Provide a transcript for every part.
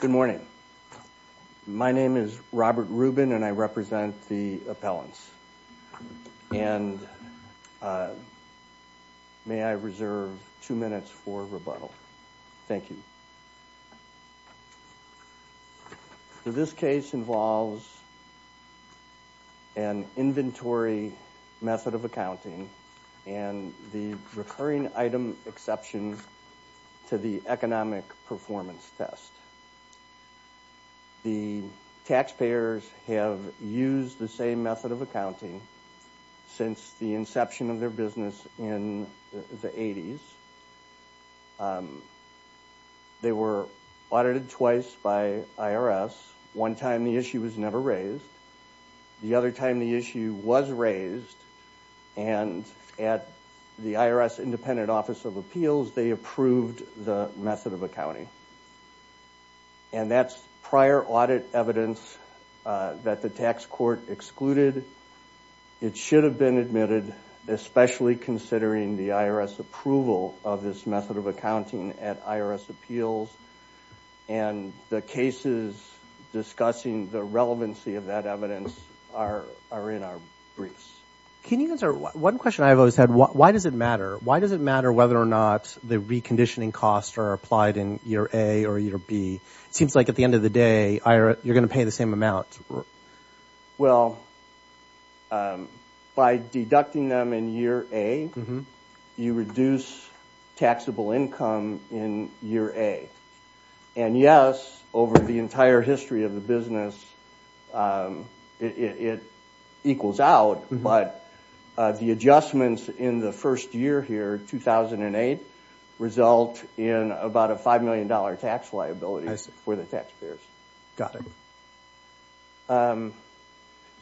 Good morning. My name is Robert Rubin and I represent the appellants. And may I reserve two minutes for rebuttal. Thank you. This case involves an inventory method of accounting and the recurring item exception to the economic performance test. The taxpayers have used the same method of accounting since the inception of their business in the 80s. They were audited and at the IRS Independent Office of Appeals, they approved the method of accounting. And that's prior audit evidence that the tax court excluded. It should have been admitted, especially considering the IRS approval of this method of accounting at IRS Appeals. And the cases discussing the relevancy of that evidence are in our briefs. Can you answer one question I've always had? Why does it matter? Why does it matter whether or not the reconditioning costs are applied in year A or year B? It seems like at the end of the day, you're going to pay the same amount. Well, by deducting them in year A, you reduce taxable income in year A. And yes, over the entire The adjustments in the first year here, 2008, result in about a $5 million tax liability for the taxpayers. Got it.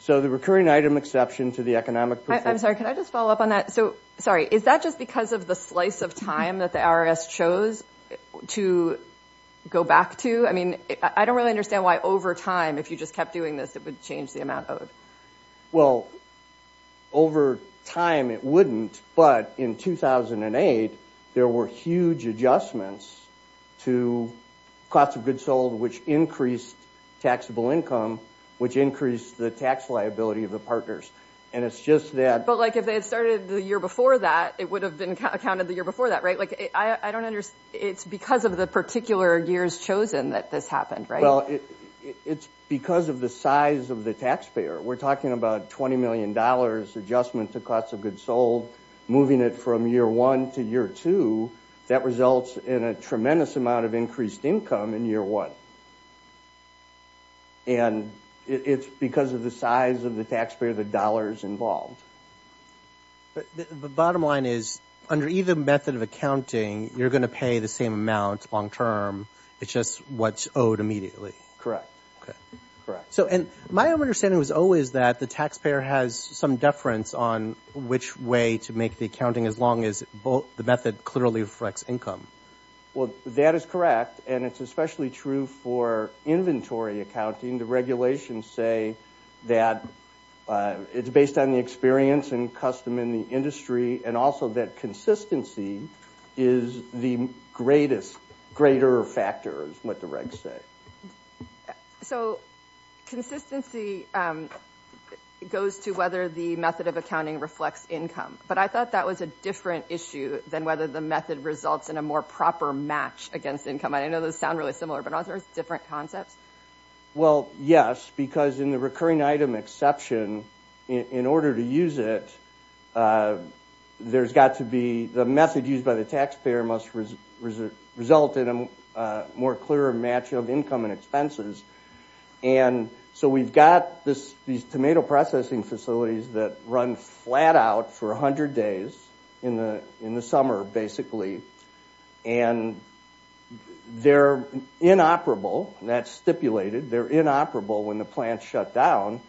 So the recurring item exception to the economic performance... I'm sorry, can I just follow up on that? So, sorry, is that just because of the slice of time that the IRS chose to go back to? I mean, I don't really understand why over time, if you just kept doing this, it would change the amount owed. Well, over time, it wouldn't. But in 2008, there were huge adjustments to cost of goods sold, which increased taxable income, which increased the tax liability of the partners. And it's just that... But like, if they had started the year before that, it would have been accounted the year before that, right? Like, I don't understand. It's because of the particular years chosen that this happened, right? Well, it's because of the size of the taxpayer. We're talking about $20 million adjustment to cost of goods sold, moving it from year one to year two, that results in a tremendous amount of increased income in year one. And it's because of the size of the taxpayer, the dollars involved. But the bottom line is, under either method of accounting, you're going to pay the same amount long-term. It's just what's owed immediately. Okay. Correct. So, and my understanding was always that the taxpayer has some deference on which way to make the accounting as long as the method clearly reflects income. Well, that is correct. And it's especially true for inventory accounting. The regulations say that it's based on the experience and custom in the industry, and also that consistency is the greatest greater factor, is what the regs say. So, consistency goes to whether the method of accounting reflects income. But I thought that was a different issue than whether the method results in a more proper match against income. I know those sound really similar, but aren't those different concepts? Well, yes, because in the recurring item exception, in order to use it, there's got to be the method used by the taxpayer must result in a more clear match of income and expenses. And so, we've got these tomato processing facilities that run flat out for 100 days in the summer, basically. And they're inoperable. That's stipulated. They're inoperable when the plants shut down.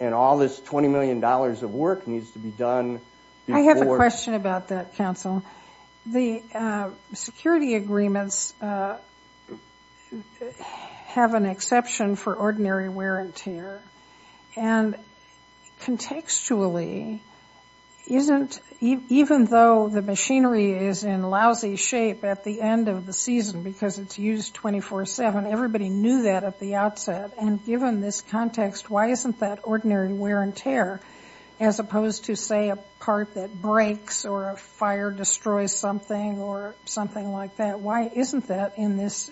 And all this $20 million of work needs to be done. I have a question about that, counsel. The security agreements have an exception for ordinary wear and tear. And contextually, even though the machinery is in lousy shape at the end of the season because it's used 24-7, everybody knew that at the outset. And given this context, why isn't that ordinary wear and tear as opposed to, say, a part that breaks or a fire destroys something or something like that? Why isn't that in this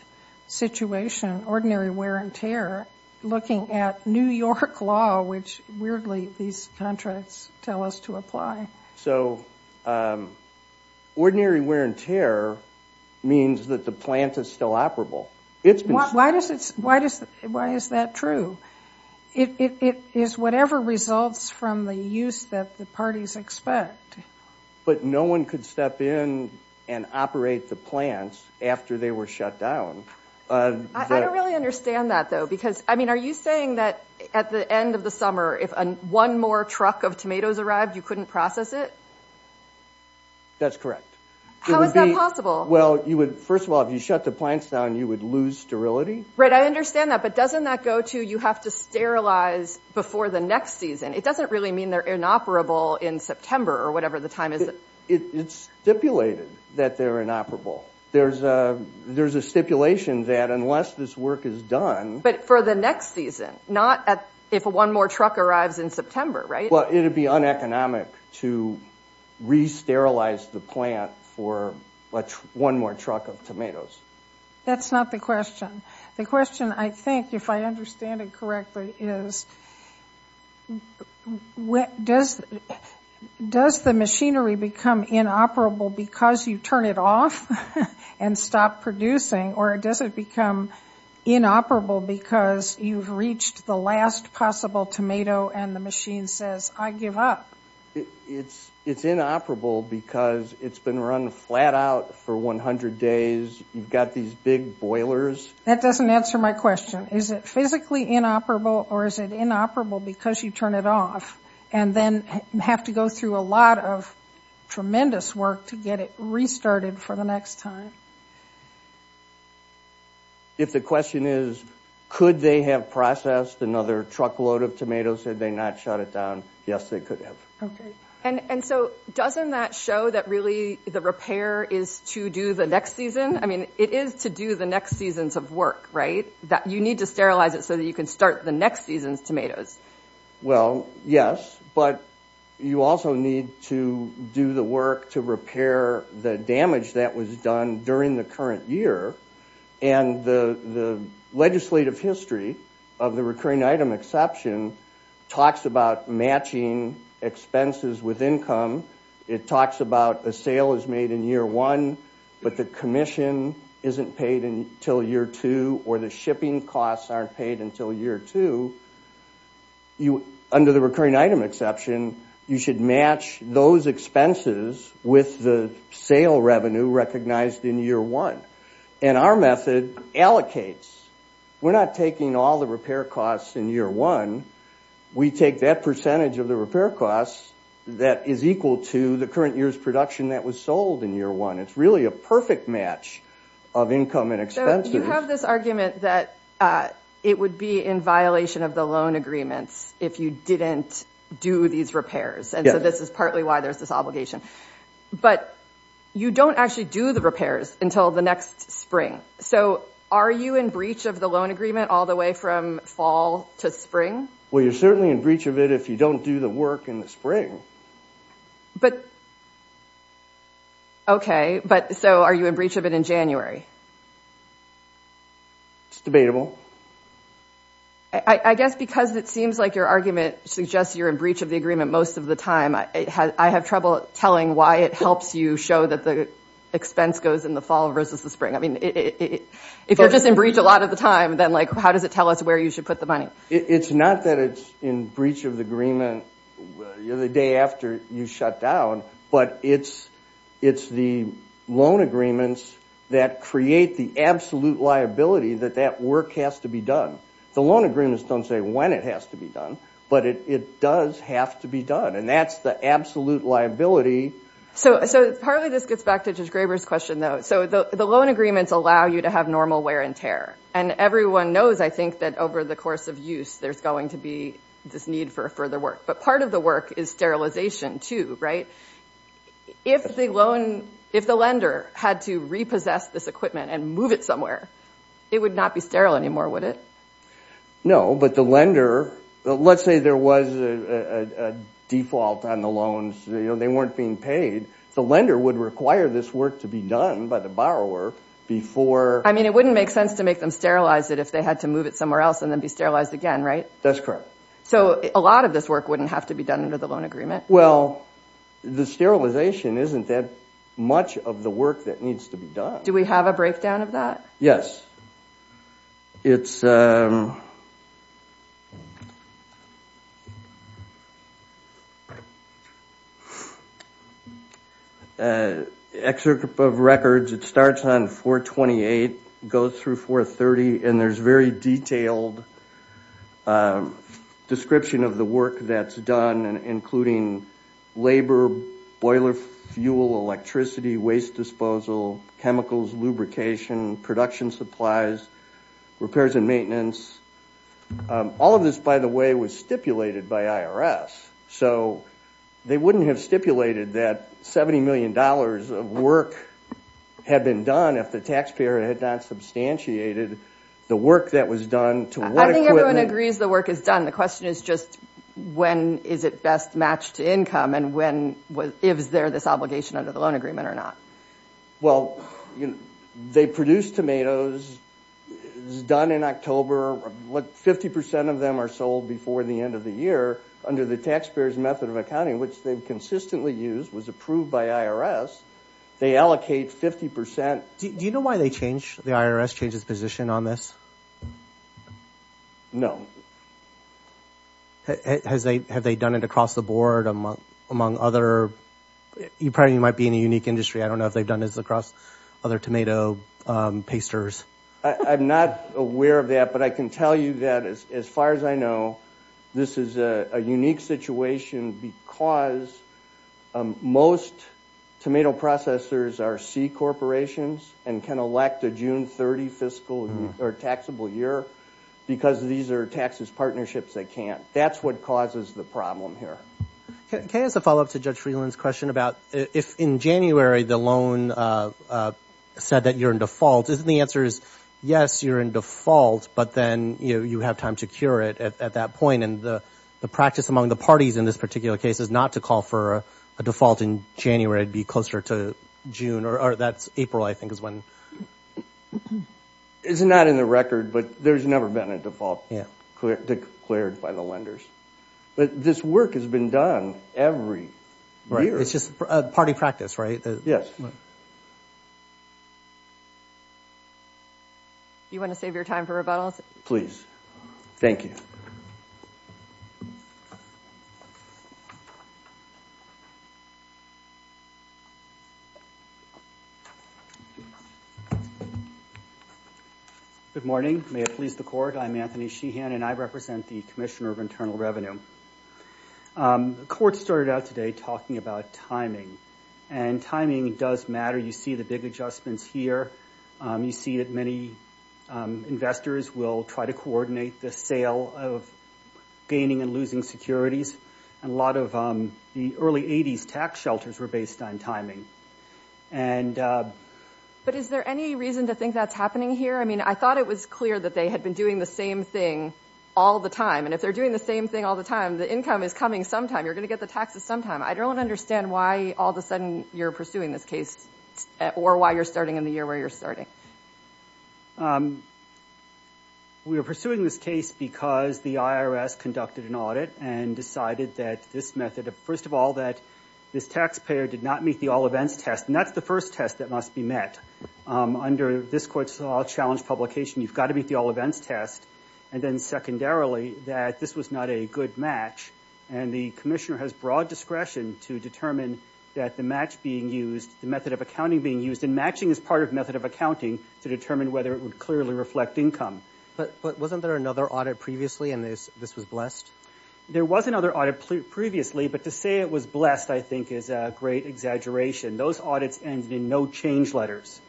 situation, ordinary wear and tear, looking at New York law, which, weirdly, these contracts tell us to apply? So, ordinary wear and tear means that the plant is still operable. Why is that true? It is whatever results from the use that the parties expect. But no one could step in and operate the plants after they were shut down. I don't really understand that, though. Because, I mean, are you saying that at the end of the summer, if one more truck of tomatoes arrived, you couldn't process it? That's correct. How is that possible? Well, first of all, if you shut the plants down, you would lose sterility. Right, I understand that. But doesn't that go to you have to sterilize before the next season? It doesn't really mean they're inoperable in September or whatever the time is. It's stipulated that they're inoperable. There's a stipulation that unless this work is done... But for the next season, not if one more truck arrives in September, right? It would be uneconomic to re-sterilize the plant for one more truck of tomatoes. That's not the question. The question, I think, if I understand it correctly, is does the machinery become inoperable because you turn it off and stop producing? Or does it become inoperable because you've reached the last possible tomato and the machine says, I give up? It's inoperable because it's been run flat out for 100 days. You've got these big boilers. That doesn't answer my question. Is it physically inoperable or is it inoperable because you turn it off and then have to go through a lot of tremendous work to get it restarted for the next time? If the question is, could they have processed another truckload of tomatoes had they not shut it down? Yes, they could have. Okay. And so doesn't that show that really the repair is to do the next season? I mean, it is to do the next seasons of work, right? You need to sterilize it so that you can start the next season's tomatoes. Well, yes, but you also need to do the work to repair the damage that was done during the current year. And the legislative history of the recurring item exception talks about matching expenses with income. It talks about a sale is made in year one, but the commission isn't paid until year two or the shipping costs aren't paid until year two. Under the recurring item exception, you should match those expenses with the sale revenue recognized in year one. And our method allocates. We're not taking all the repair costs in year one. We take that percentage of the repair costs that is equal to the current year's production that was sold in year one. It's really a perfect match of income and expenses. So you have this argument that it would be in violation of the loan agreements if you didn't do these repairs. And so this is partly why there's this obligation. But you don't actually do the repairs until the next spring. So are you in breach of the loan agreement all the way from fall to spring? Well, you're certainly in breach of it if you don't do the work in the spring. But, okay, but so are you in breach of it in January? It's debatable. I guess because it seems like your argument suggests you're in breach of the agreement most of the time, I have trouble telling why it helps you show that the expense goes in the fall versus the spring. I mean, if you're just in breach a lot of the time, then how does it tell us where you should put the money? It's not that it's in breach of the agreement the day after you shut down. But it's the loan agreements that create the absolute liability that that work has to be done. The loan agreements don't say when it has to be done, but it does have to be done. And that's the absolute liability. So partly this gets back to Judge Graber's question, though. So the loan agreements allow you to have normal wear and tear. And everyone knows, I think, that over the course of use, there's going to be this need for further work. But part of the work is sterilization, too, right? If the lender had to repossess this equipment and move it somewhere, it would not be sterile anymore, would it? No, but the lender—let's say there was a default on the loans. They weren't being paid. The lender would require this work to be done by the borrower before— I mean, it wouldn't make sense to make them sterilize it if they had to move it somewhere else and then be sterilized again, right? That's correct. So a lot of this work wouldn't have to be done under the loan agreement? Well, the sterilization isn't that much of the work that needs to be done. Do we have a breakdown of that? Yes. It's—excerpt of records. It starts on 428, goes through 430, and there's a very detailed description of the work that's done, including labor, boiler fuel, electricity, waste disposal, chemicals, lubrication, production supplies, repairs and maintenance. All of this, by the way, was stipulated by IRS. So they wouldn't have stipulated that $70 million of work had been done if the taxpayer had not substantiated the work that was done to— I think everyone agrees the work is done. The question is just when is it best matched to income, and when—if is there this obligation under the loan agreement or not? Well, they produce tomatoes. It's done in October. Fifty percent of them are sold before the end of the year under the taxpayer's method of accounting, which they've consistently used, was approved by IRS. They allocate 50 percent— Do you know why they changed—the IRS changed its position on this? No. Has they—have they done it across the board, among other—you probably might be in a unique industry. I don't know if they've done this across other tomato pasters. I'm not aware of that, but I can tell you that, as far as I know, this is a unique situation because most tomato processors are C-corporations and can elect a June 30 fiscal or taxable year because these are taxes partnerships that can't. That's what causes the problem here. Can I ask a follow-up to Judge Freeland's question about if, in January, the loan said that you're in default, isn't the answer is, yes, you're in default, but then, you know, you have time to cure it at that point, and the practice among the parties in this particular case is not to call for a default in January. It'd be closer to June, or that's—April, I think, is when— It's not in the record, but there's never been a default declared by the lenders. But this work has been done every year. It's just a party practice, right? Yes. You want to save your time for rebuttals? Please. Thank you. Good morning. May it please the Court, I'm Anthony Sheehan, and I represent the Commissioner of Internal Revenue. The Court started out today talking about timing, and timing does matter. You see the big adjustments here. You see that many investors will try to coordinate the sale of gaining and losing securities, and a lot of the early 80s tax shelters were based on timing. But is there any reason to think that's happening here? I mean, I thought it was clear that they had been doing the same thing all the time, and if they're doing the same thing all the time, the income is coming sometime. You're going to get the taxes sometime. I don't understand why all of a sudden you're pursuing this case, or why you're starting in the year where you're starting. We were pursuing this case because the IRS conducted an audit and decided that this method— first of all, that this taxpayer did not meet the all-events test, and that's the first test that must be met. Under this Court's all-challenge publication, you've got to meet the all-events test, and then secondarily, that this was not a good match, and the Commissioner has broad discretion to determine that the match being used, the method of accounting being used—and matching is part of method of accounting—to determine whether it would clearly reflect income. But wasn't there another audit previously, and this was blessed? There was another audit previously, but to say it was blessed, I think, is a great exaggeration. Those audits ended in no-change letters.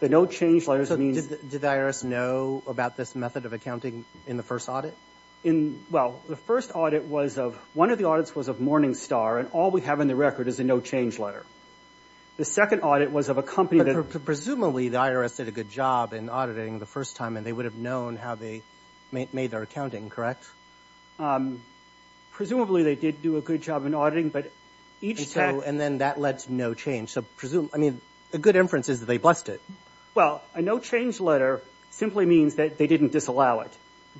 The no-change letters means— So did the IRS know about this method of accounting in the first audit? Well, the first audit was of—one of the audits was of Morningstar, and all we have in the record is a no-change letter. The second audit was of a company that— Presumably, the IRS did a good job in auditing the first time, and they would have known how they made their accounting, correct? Presumably, they did do a good job in auditing, but each time— And then that led to no change, so presume—I mean, a good inference is that they blessed it. Well, a no-change letter simply means that they didn't disallow it,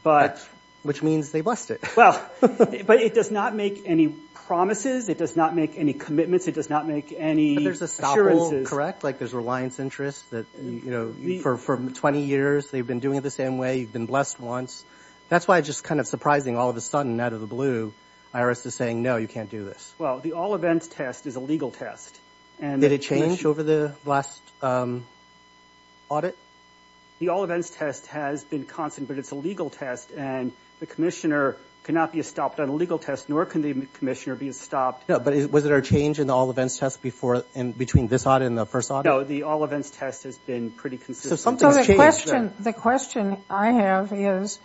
but— Which means they blessed it. Well, but it does not make any promises. It does not make any commitments. It does not make any assurances. But there's a stopper, correct? Like, there's reliance interest that, you know, for 20 years, they've been doing it the same way. You've been blessed once. That's why it's just kind of surprising, all of a sudden, out of the blue, the IRS is saying, no, you can't do this. Well, the all-events test is a legal test, and— Did it change over the last audit? The all-events test has been constant, but it's a legal test, and the commissioner cannot be stopped on a legal test, nor can the commissioner be stopped— No, but was there a change in the all-events test before—between this audit and the No, the all-events test has been pretty consistent. So, the question I have is,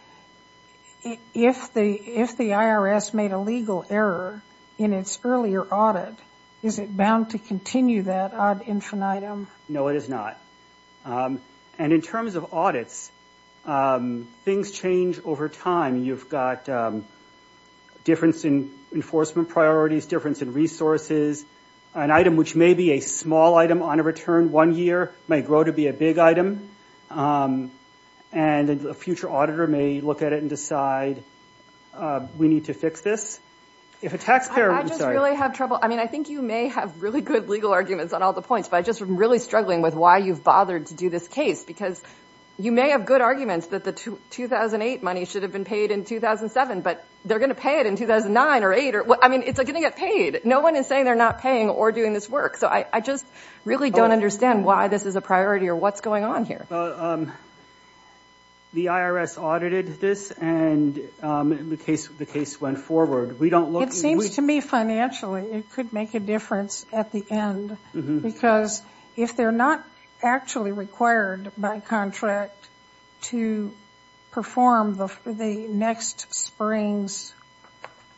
if the IRS made a legal error in its earlier audit, is it bound to continue that ad infinitum? No, it is not. And in terms of audits, things change over time. You've got difference in enforcement priorities, difference in resources, an item which may be a small item on a return one year may grow to be a big item, and a future auditor may look at it and decide, we need to fix this. If a taxpayer— I just really have trouble—I mean, I think you may have really good legal arguments on all the points, but I'm just really struggling with why you've bothered to do this case, because you may have good arguments that the 2008 money should have been paid in 2007, but they're going to pay it in 2009 or 2008. I mean, it's going to get paid. No one is saying they're not paying or doing this work. So, I just really don't understand why this is a priority or what's going on here. The IRS audited this, and the case went forward. We don't look— It seems to me financially, it could make a difference at the end, because if they're not actually required by contract to perform the next spring's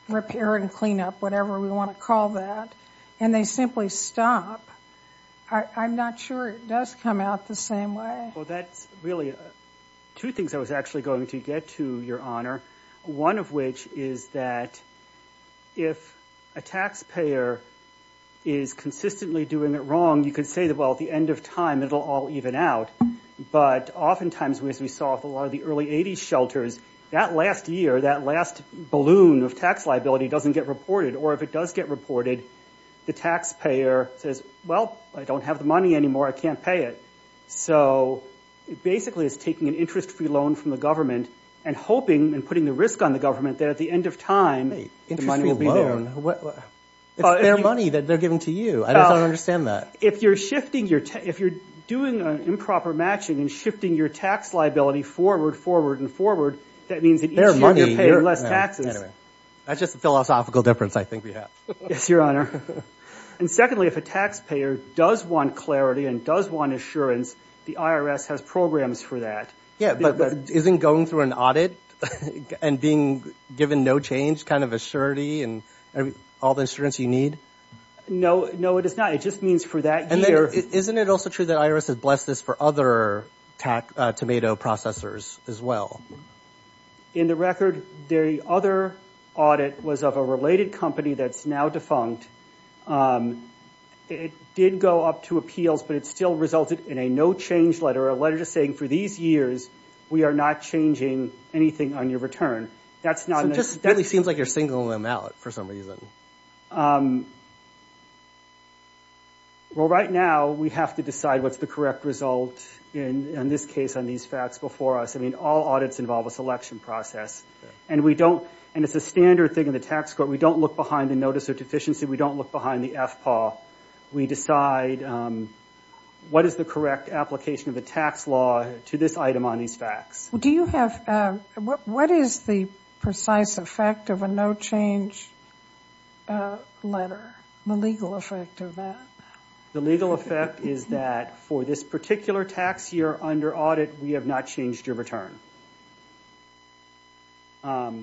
repair and cleanup, whatever we want to call that, and they simply stop, I'm not sure it does come out the same way. Well, that's really two things I was actually going to get to, Your Honor. One of which is that if a taxpayer is consistently doing it wrong, you could say that, well, at the end of time, it'll all even out. But oftentimes, as we saw with a lot of the early 80s shelters, that last year, that last balloon of tax liability doesn't get reported. Or if it does get reported, the taxpayer says, well, I don't have the money anymore. I can't pay it. So, it basically is taking an interest-free loan from the government and hoping and putting the risk on the government that at the end of time, the money will be there. Hey, interest-free loan? It's their money that they're giving to you. I just don't understand that. If you're doing improper matching and shifting your tax liability forward, forward, that means that each year you're paying less taxes. That's just a philosophical difference, I think we have. Yes, Your Honor. And secondly, if a taxpayer does want clarity and does want assurance, the IRS has programs for that. Yeah, but isn't going through an audit and being given no change kind of assurity and all the insurance you need? No, no, it is not. It just means for that year. Isn't it also true that IRS has blessed this for other tomato processors as well? In the record, the other audit was of a related company that's now defunct. It did go up to appeals, but it still resulted in a no-change letter, a letter just saying, for these years, we are not changing anything on your return. So, it just really seems like you're singling them out for some reason. Well, right now, we have to decide what's the correct result, in this case, on these facts before us. I mean, all audits involve a selection process. And we don't, and it's a standard thing in the tax court, we don't look behind the notice of deficiency, we don't look behind the FPAW. We decide what is the correct application of the tax law to this item on these facts. Do you have, what is the precise effect of a no-change letter, the legal effect of that? The legal effect is that for this particular tax year under audit, we have not changed your return. But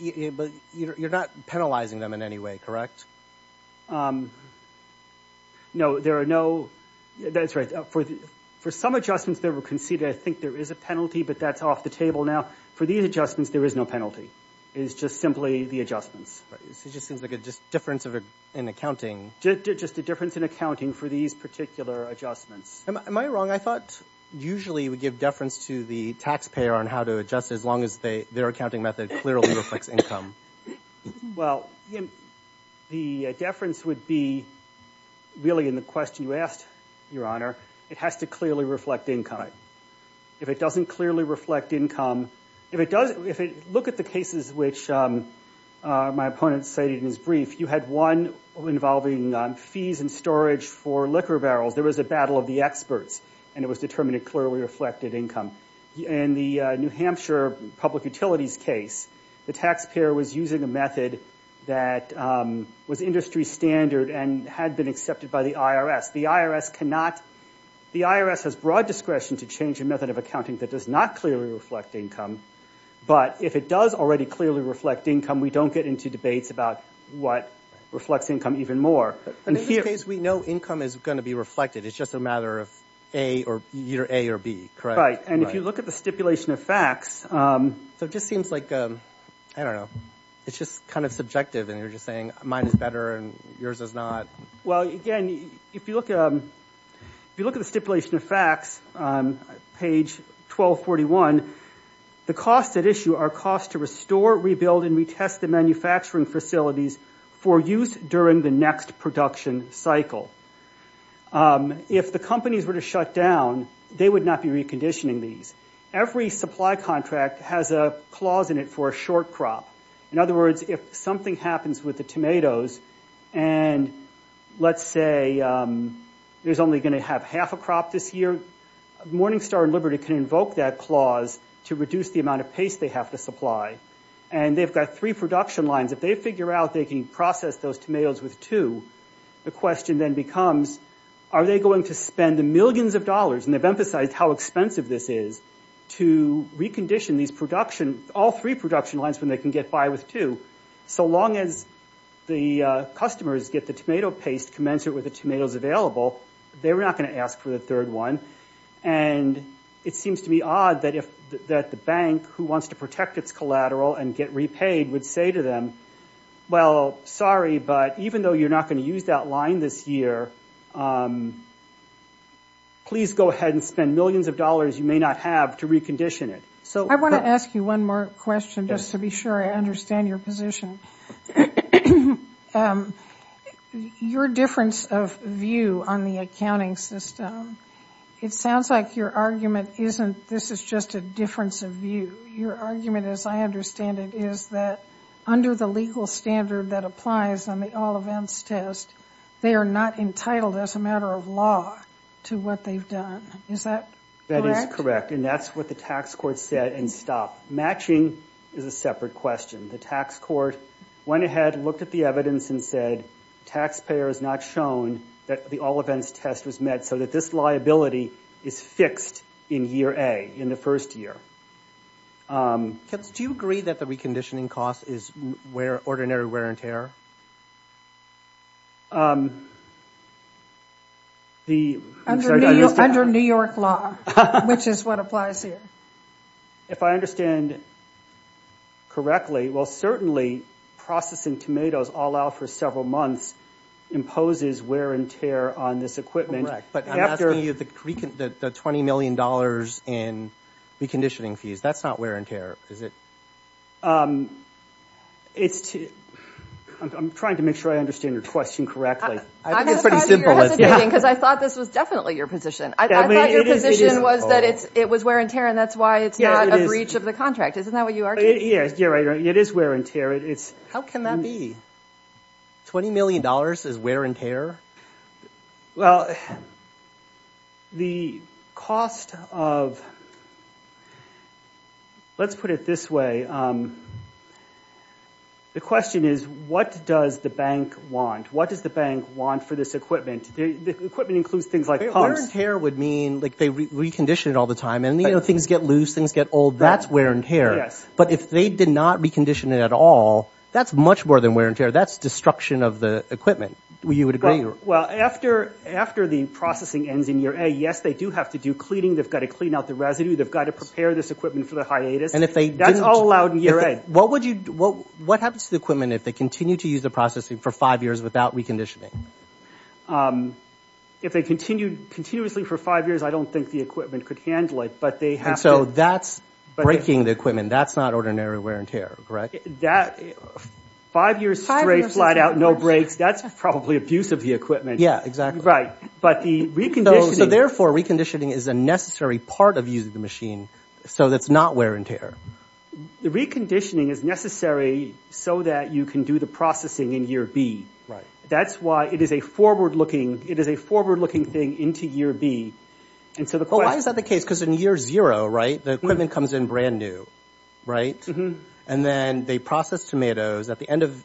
you're not penalizing them in any way, correct? No, there are no, that's right. For some adjustments that were conceded, I think there is a penalty, but that's off the table now. For these adjustments, there is no penalty. It is just simply the adjustments. It just seems like a difference in accounting. Just a difference in accounting for these particular adjustments. Am I wrong? I thought usually we give deference to the taxpayer on how to adjust, as long as their accounting method clearly reflects income. Well, the deference would be, really, in the question you asked, Your Honor, it has to clearly reflect income. If it doesn't clearly reflect income, if you look at the cases which my opponent cited in his brief, you had one involving fees and storage for liquor barrels. There was a battle of the experts, and it was determined it clearly reflected income. In the New Hampshire public utilities case, the taxpayer was using a method that was industry standard and had been accepted by the IRS. The IRS has broad discretion to change a method of accounting that does not clearly reflect income, but if it does already clearly reflect income, we don't get into debates about what reflects income even more. In this case, we know income is going to be reflected. It's just a matter of either A or B, correct? Right, and if you look at the stipulation of facts... So it just seems like, I don't know, it's just kind of subjective, and you're just saying mine is better and yours is not. Well, again, if you look at the stipulation of facts, page 1241, the costs at issue are costs to restore, rebuild, and retest the manufacturing facilities for use during the next production cycle. If the companies were to shut down, they would not be reconditioning these. Every supply contract has a clause in it for a short crop. In other words, if something happens with the tomatoes, and let's say there's only going to have half a crop this year, Morningstar and Liberty can invoke that clause to reduce the amount of paste they have to supply. And they've got three production lines. If they figure out they can process those tomatoes with two, the question then becomes, are they going to spend millions of dollars, and they've emphasized how expensive this is, to recondition all three production lines when they can get by with two. So long as the customers get the tomato paste commensurate with the tomatoes available, they're not going to ask for the third one. And it seems to be odd that the bank, who wants to protect its collateral and get repaid, would say to them, well, sorry, but even though you're not going to use that line this year, please go ahead and spend millions of dollars you may not have to recondition it. I want to ask you one more question just to be sure I understand your position. Your difference of view on the accounting system, it sounds like your argument isn't this is just a difference of view. Your argument, as I understand it, is that under the legal standard that applies on the All-Events Test, they are not entitled as a matter of law to what they've done. Is that correct? That is correct. And that's what the tax court said and stopped. Matching is a separate question. The tax court went ahead and looked at the evidence and said, taxpayer has not shown that the All-Events Test was met, so that this liability is fixed in year A, in the first year. Do you agree that the reconditioning cost is ordinary wear and tear? Under New York law, which is what applies here. If I understand correctly, well, certainly processing tomatoes all out for several months imposes wear and tear on this equipment. But I'm asking you the $20 million in reconditioning fees. That's not wear and tear, is it? I'm trying to make sure I understand your question correctly. I'm surprised you're hesitating, because I thought this was definitely your position. I thought your position was that it was wear and tear, and that's why it's not a breach of the contract. Isn't that what you argued? Yes, you're right. It is wear and tear. How can that be? $20 million is wear and tear? Well, let's put it this way. The question is, what does the bank want? What does the bank want for this equipment? The equipment includes things like pumps. Wear and tear would mean they recondition it all the time, and things get loose, things get old. That's wear and tear. But if they did not recondition it at all, that's much more than wear and tear. That's destruction of the equipment. You would agree? Well, after the processing ends in year A, yes, they do have to do cleaning. They've got to clean out the residue. They've got to prepare this equipment for the hiatus. And if they didn't? That's all allowed in year A. What happens to the equipment if they continue to use the processing for five years without reconditioning? If they continued continuously for five years, I don't think the equipment could handle it, but they have to. And so that's breaking the equipment. That's not ordinary wear and tear, correct? Five years straight, flat out, no breaks. That's probably abuse of the equipment. Yeah, exactly. Right, but the reconditioning... So therefore, reconditioning is a necessary part of using the machine, so that's not wear and tear. The reconditioning is necessary so that you can do the processing in year B. That's why it is a forward-looking thing into year B. And so the question... Well, why is that the case? Because in year zero, right, the equipment comes in brand new, right? And then they process tomatoes. At the end of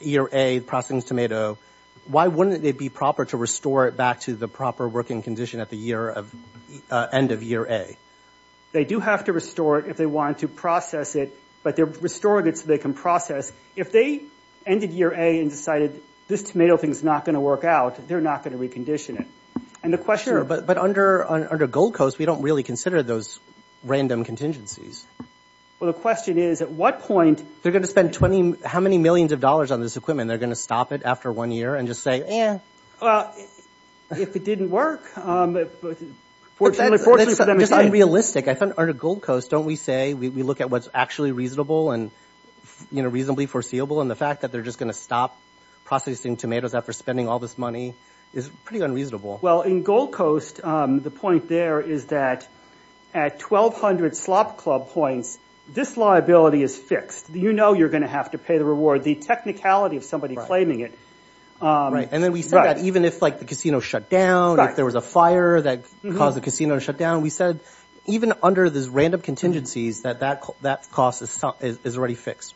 year A, processing the tomato, why wouldn't it be proper to restore it back to the proper working condition at the end of year A? They do have to restore it if they want to process it, but they're restoring it so they can process. If they ended year A and decided, this tomato thing's not going to work out, they're not going to recondition it. And the question... Sure, but under Gold Coast, we don't really consider those random contingencies. Well, the question is, at what point... They're going to spend 20... How many millions of dollars on this equipment? They're going to stop it after one year and just say, eh. Well, if it didn't work, fortunately for them... It's unrealistic. Under Gold Coast, don't we say we look at what's actually reasonable and, you know, reasonably foreseeable? And the fact that they're just going to stop processing tomatoes after spending all this money is pretty unreasonable. Well, in Gold Coast, the point there is that at 1,200 slop club points, this liability is fixed. You know you're going to have to pay the reward. The technicality of somebody claiming it... Right, and then we said that even if, like, the casino shut down, if there was a fire that caused the casino to shut down, we said even under these random contingencies that that cost is already fixed.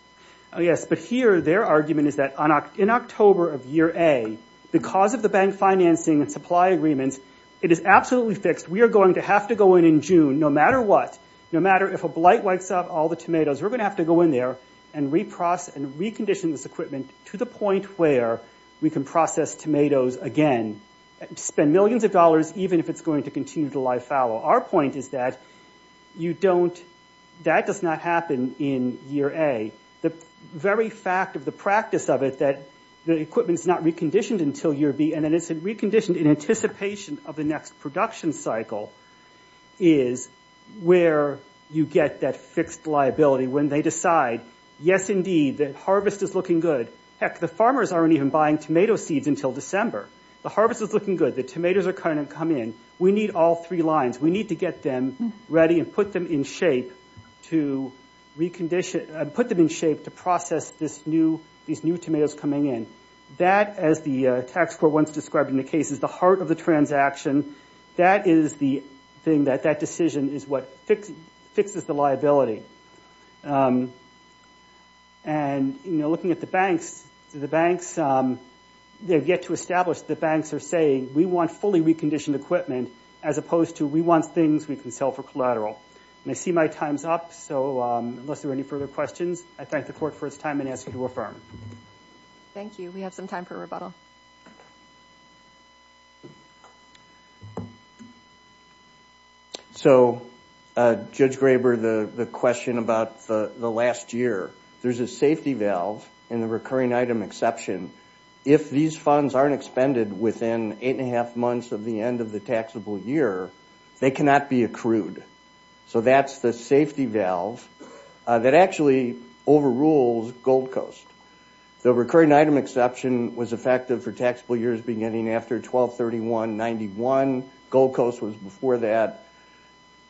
Yes, but here their argument is that in October of year A, because of the bank financing and supply agreements, it is absolutely fixed. We are going to have to go in in June, no matter what, no matter if a blight wakes up all the tomatoes. We're going to have to go in there and recondition this equipment to the point where we can process tomatoes again, spend millions of dollars, even if it's going to continue to live fallow. Our point is that you don't... That does not happen in year A. The very fact of the practice of it, that the equipment is not reconditioned until year B, and then it's reconditioned in anticipation of the next production cycle is where you get that fixed liability, when they decide, yes, indeed, the harvest is looking good. Heck, the farmers aren't even buying tomato seeds until December. The harvest is looking good. The tomatoes are going to come in. We need all three lines. We need to get them ready and put them in shape to process these new tomatoes coming in. That, as the tax court once described in the case, is the heart of the transaction. That is the thing that that decision is what fixes the liability. And, you know, looking at the banks, the banks, they've yet to establish the banks are saying, we want fully reconditioned equipment as opposed to we want things we can sell for collateral. And I see my time's up. So unless there are any further questions, I thank the court for its time and ask you to affirm. Thank you. We have some time for rebuttal. So, Judge Graber, the question about the last year, there's a safety valve in the recurring item exception. If these funds aren't expended within eight and a half months of the end of the taxable year, they cannot be accrued. So that's the safety valve that actually overrules Gold Coast. The recurring item exception was effective for taxpayers beginning after 1231-91. Gold Coast was before that.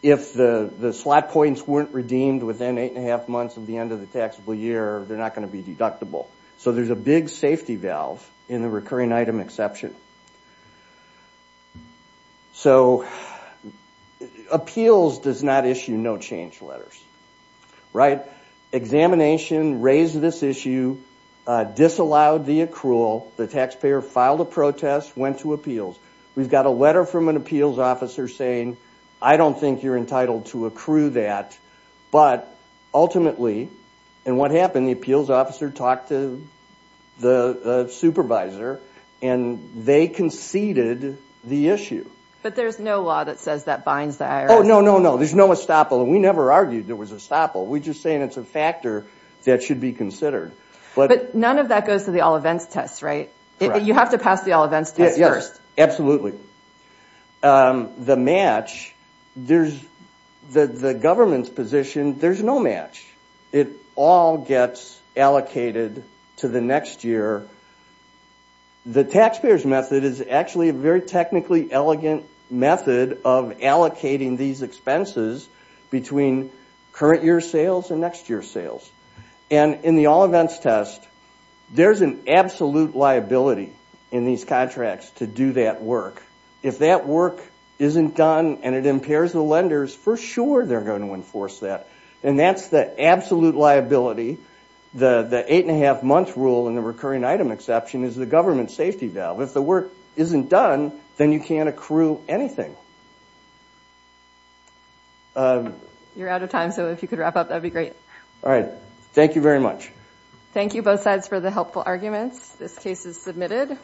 If the slot points weren't redeemed within eight and a half months of the end of the taxable year, they're not going to be deductible. So there's a big safety valve in the recurring item exception. So appeals does not issue no change letters, right? Examination raised this issue, disallowed the accrual. The taxpayer filed a protest, went to appeals. We've got a letter from an appeals officer saying, I don't think you're entitled to accrue that. But ultimately, and what happened, the appeals officer talked to the supervisor and they conceded the issue. But there's no law that says that binds the IRS. Oh, no, no, no. There's no estoppel. We never argued there was a estoppel. We're just saying it's a factor that should be considered. But none of that goes to the all events test, right? You have to pass the all events test first. The match, the government's position, there's no match. It all gets allocated to the next year. The taxpayer's method is actually a very technically elegant method of allocating these expenses between current year sales and next year sales. And in the all events test, there's an absolute liability in these contracts to do that work. If that work isn't done and it impairs the lenders, for sure they're going to enforce that. And that's the absolute liability. The eight and a half month rule and the recurring item exception is the government safety valve. If the work isn't done, then you can't accrue anything. You're out of time, so if you could wrap up, that'd be great. All right. Thank you very much. Thank you both sides for the helpful arguments. This case is submitted.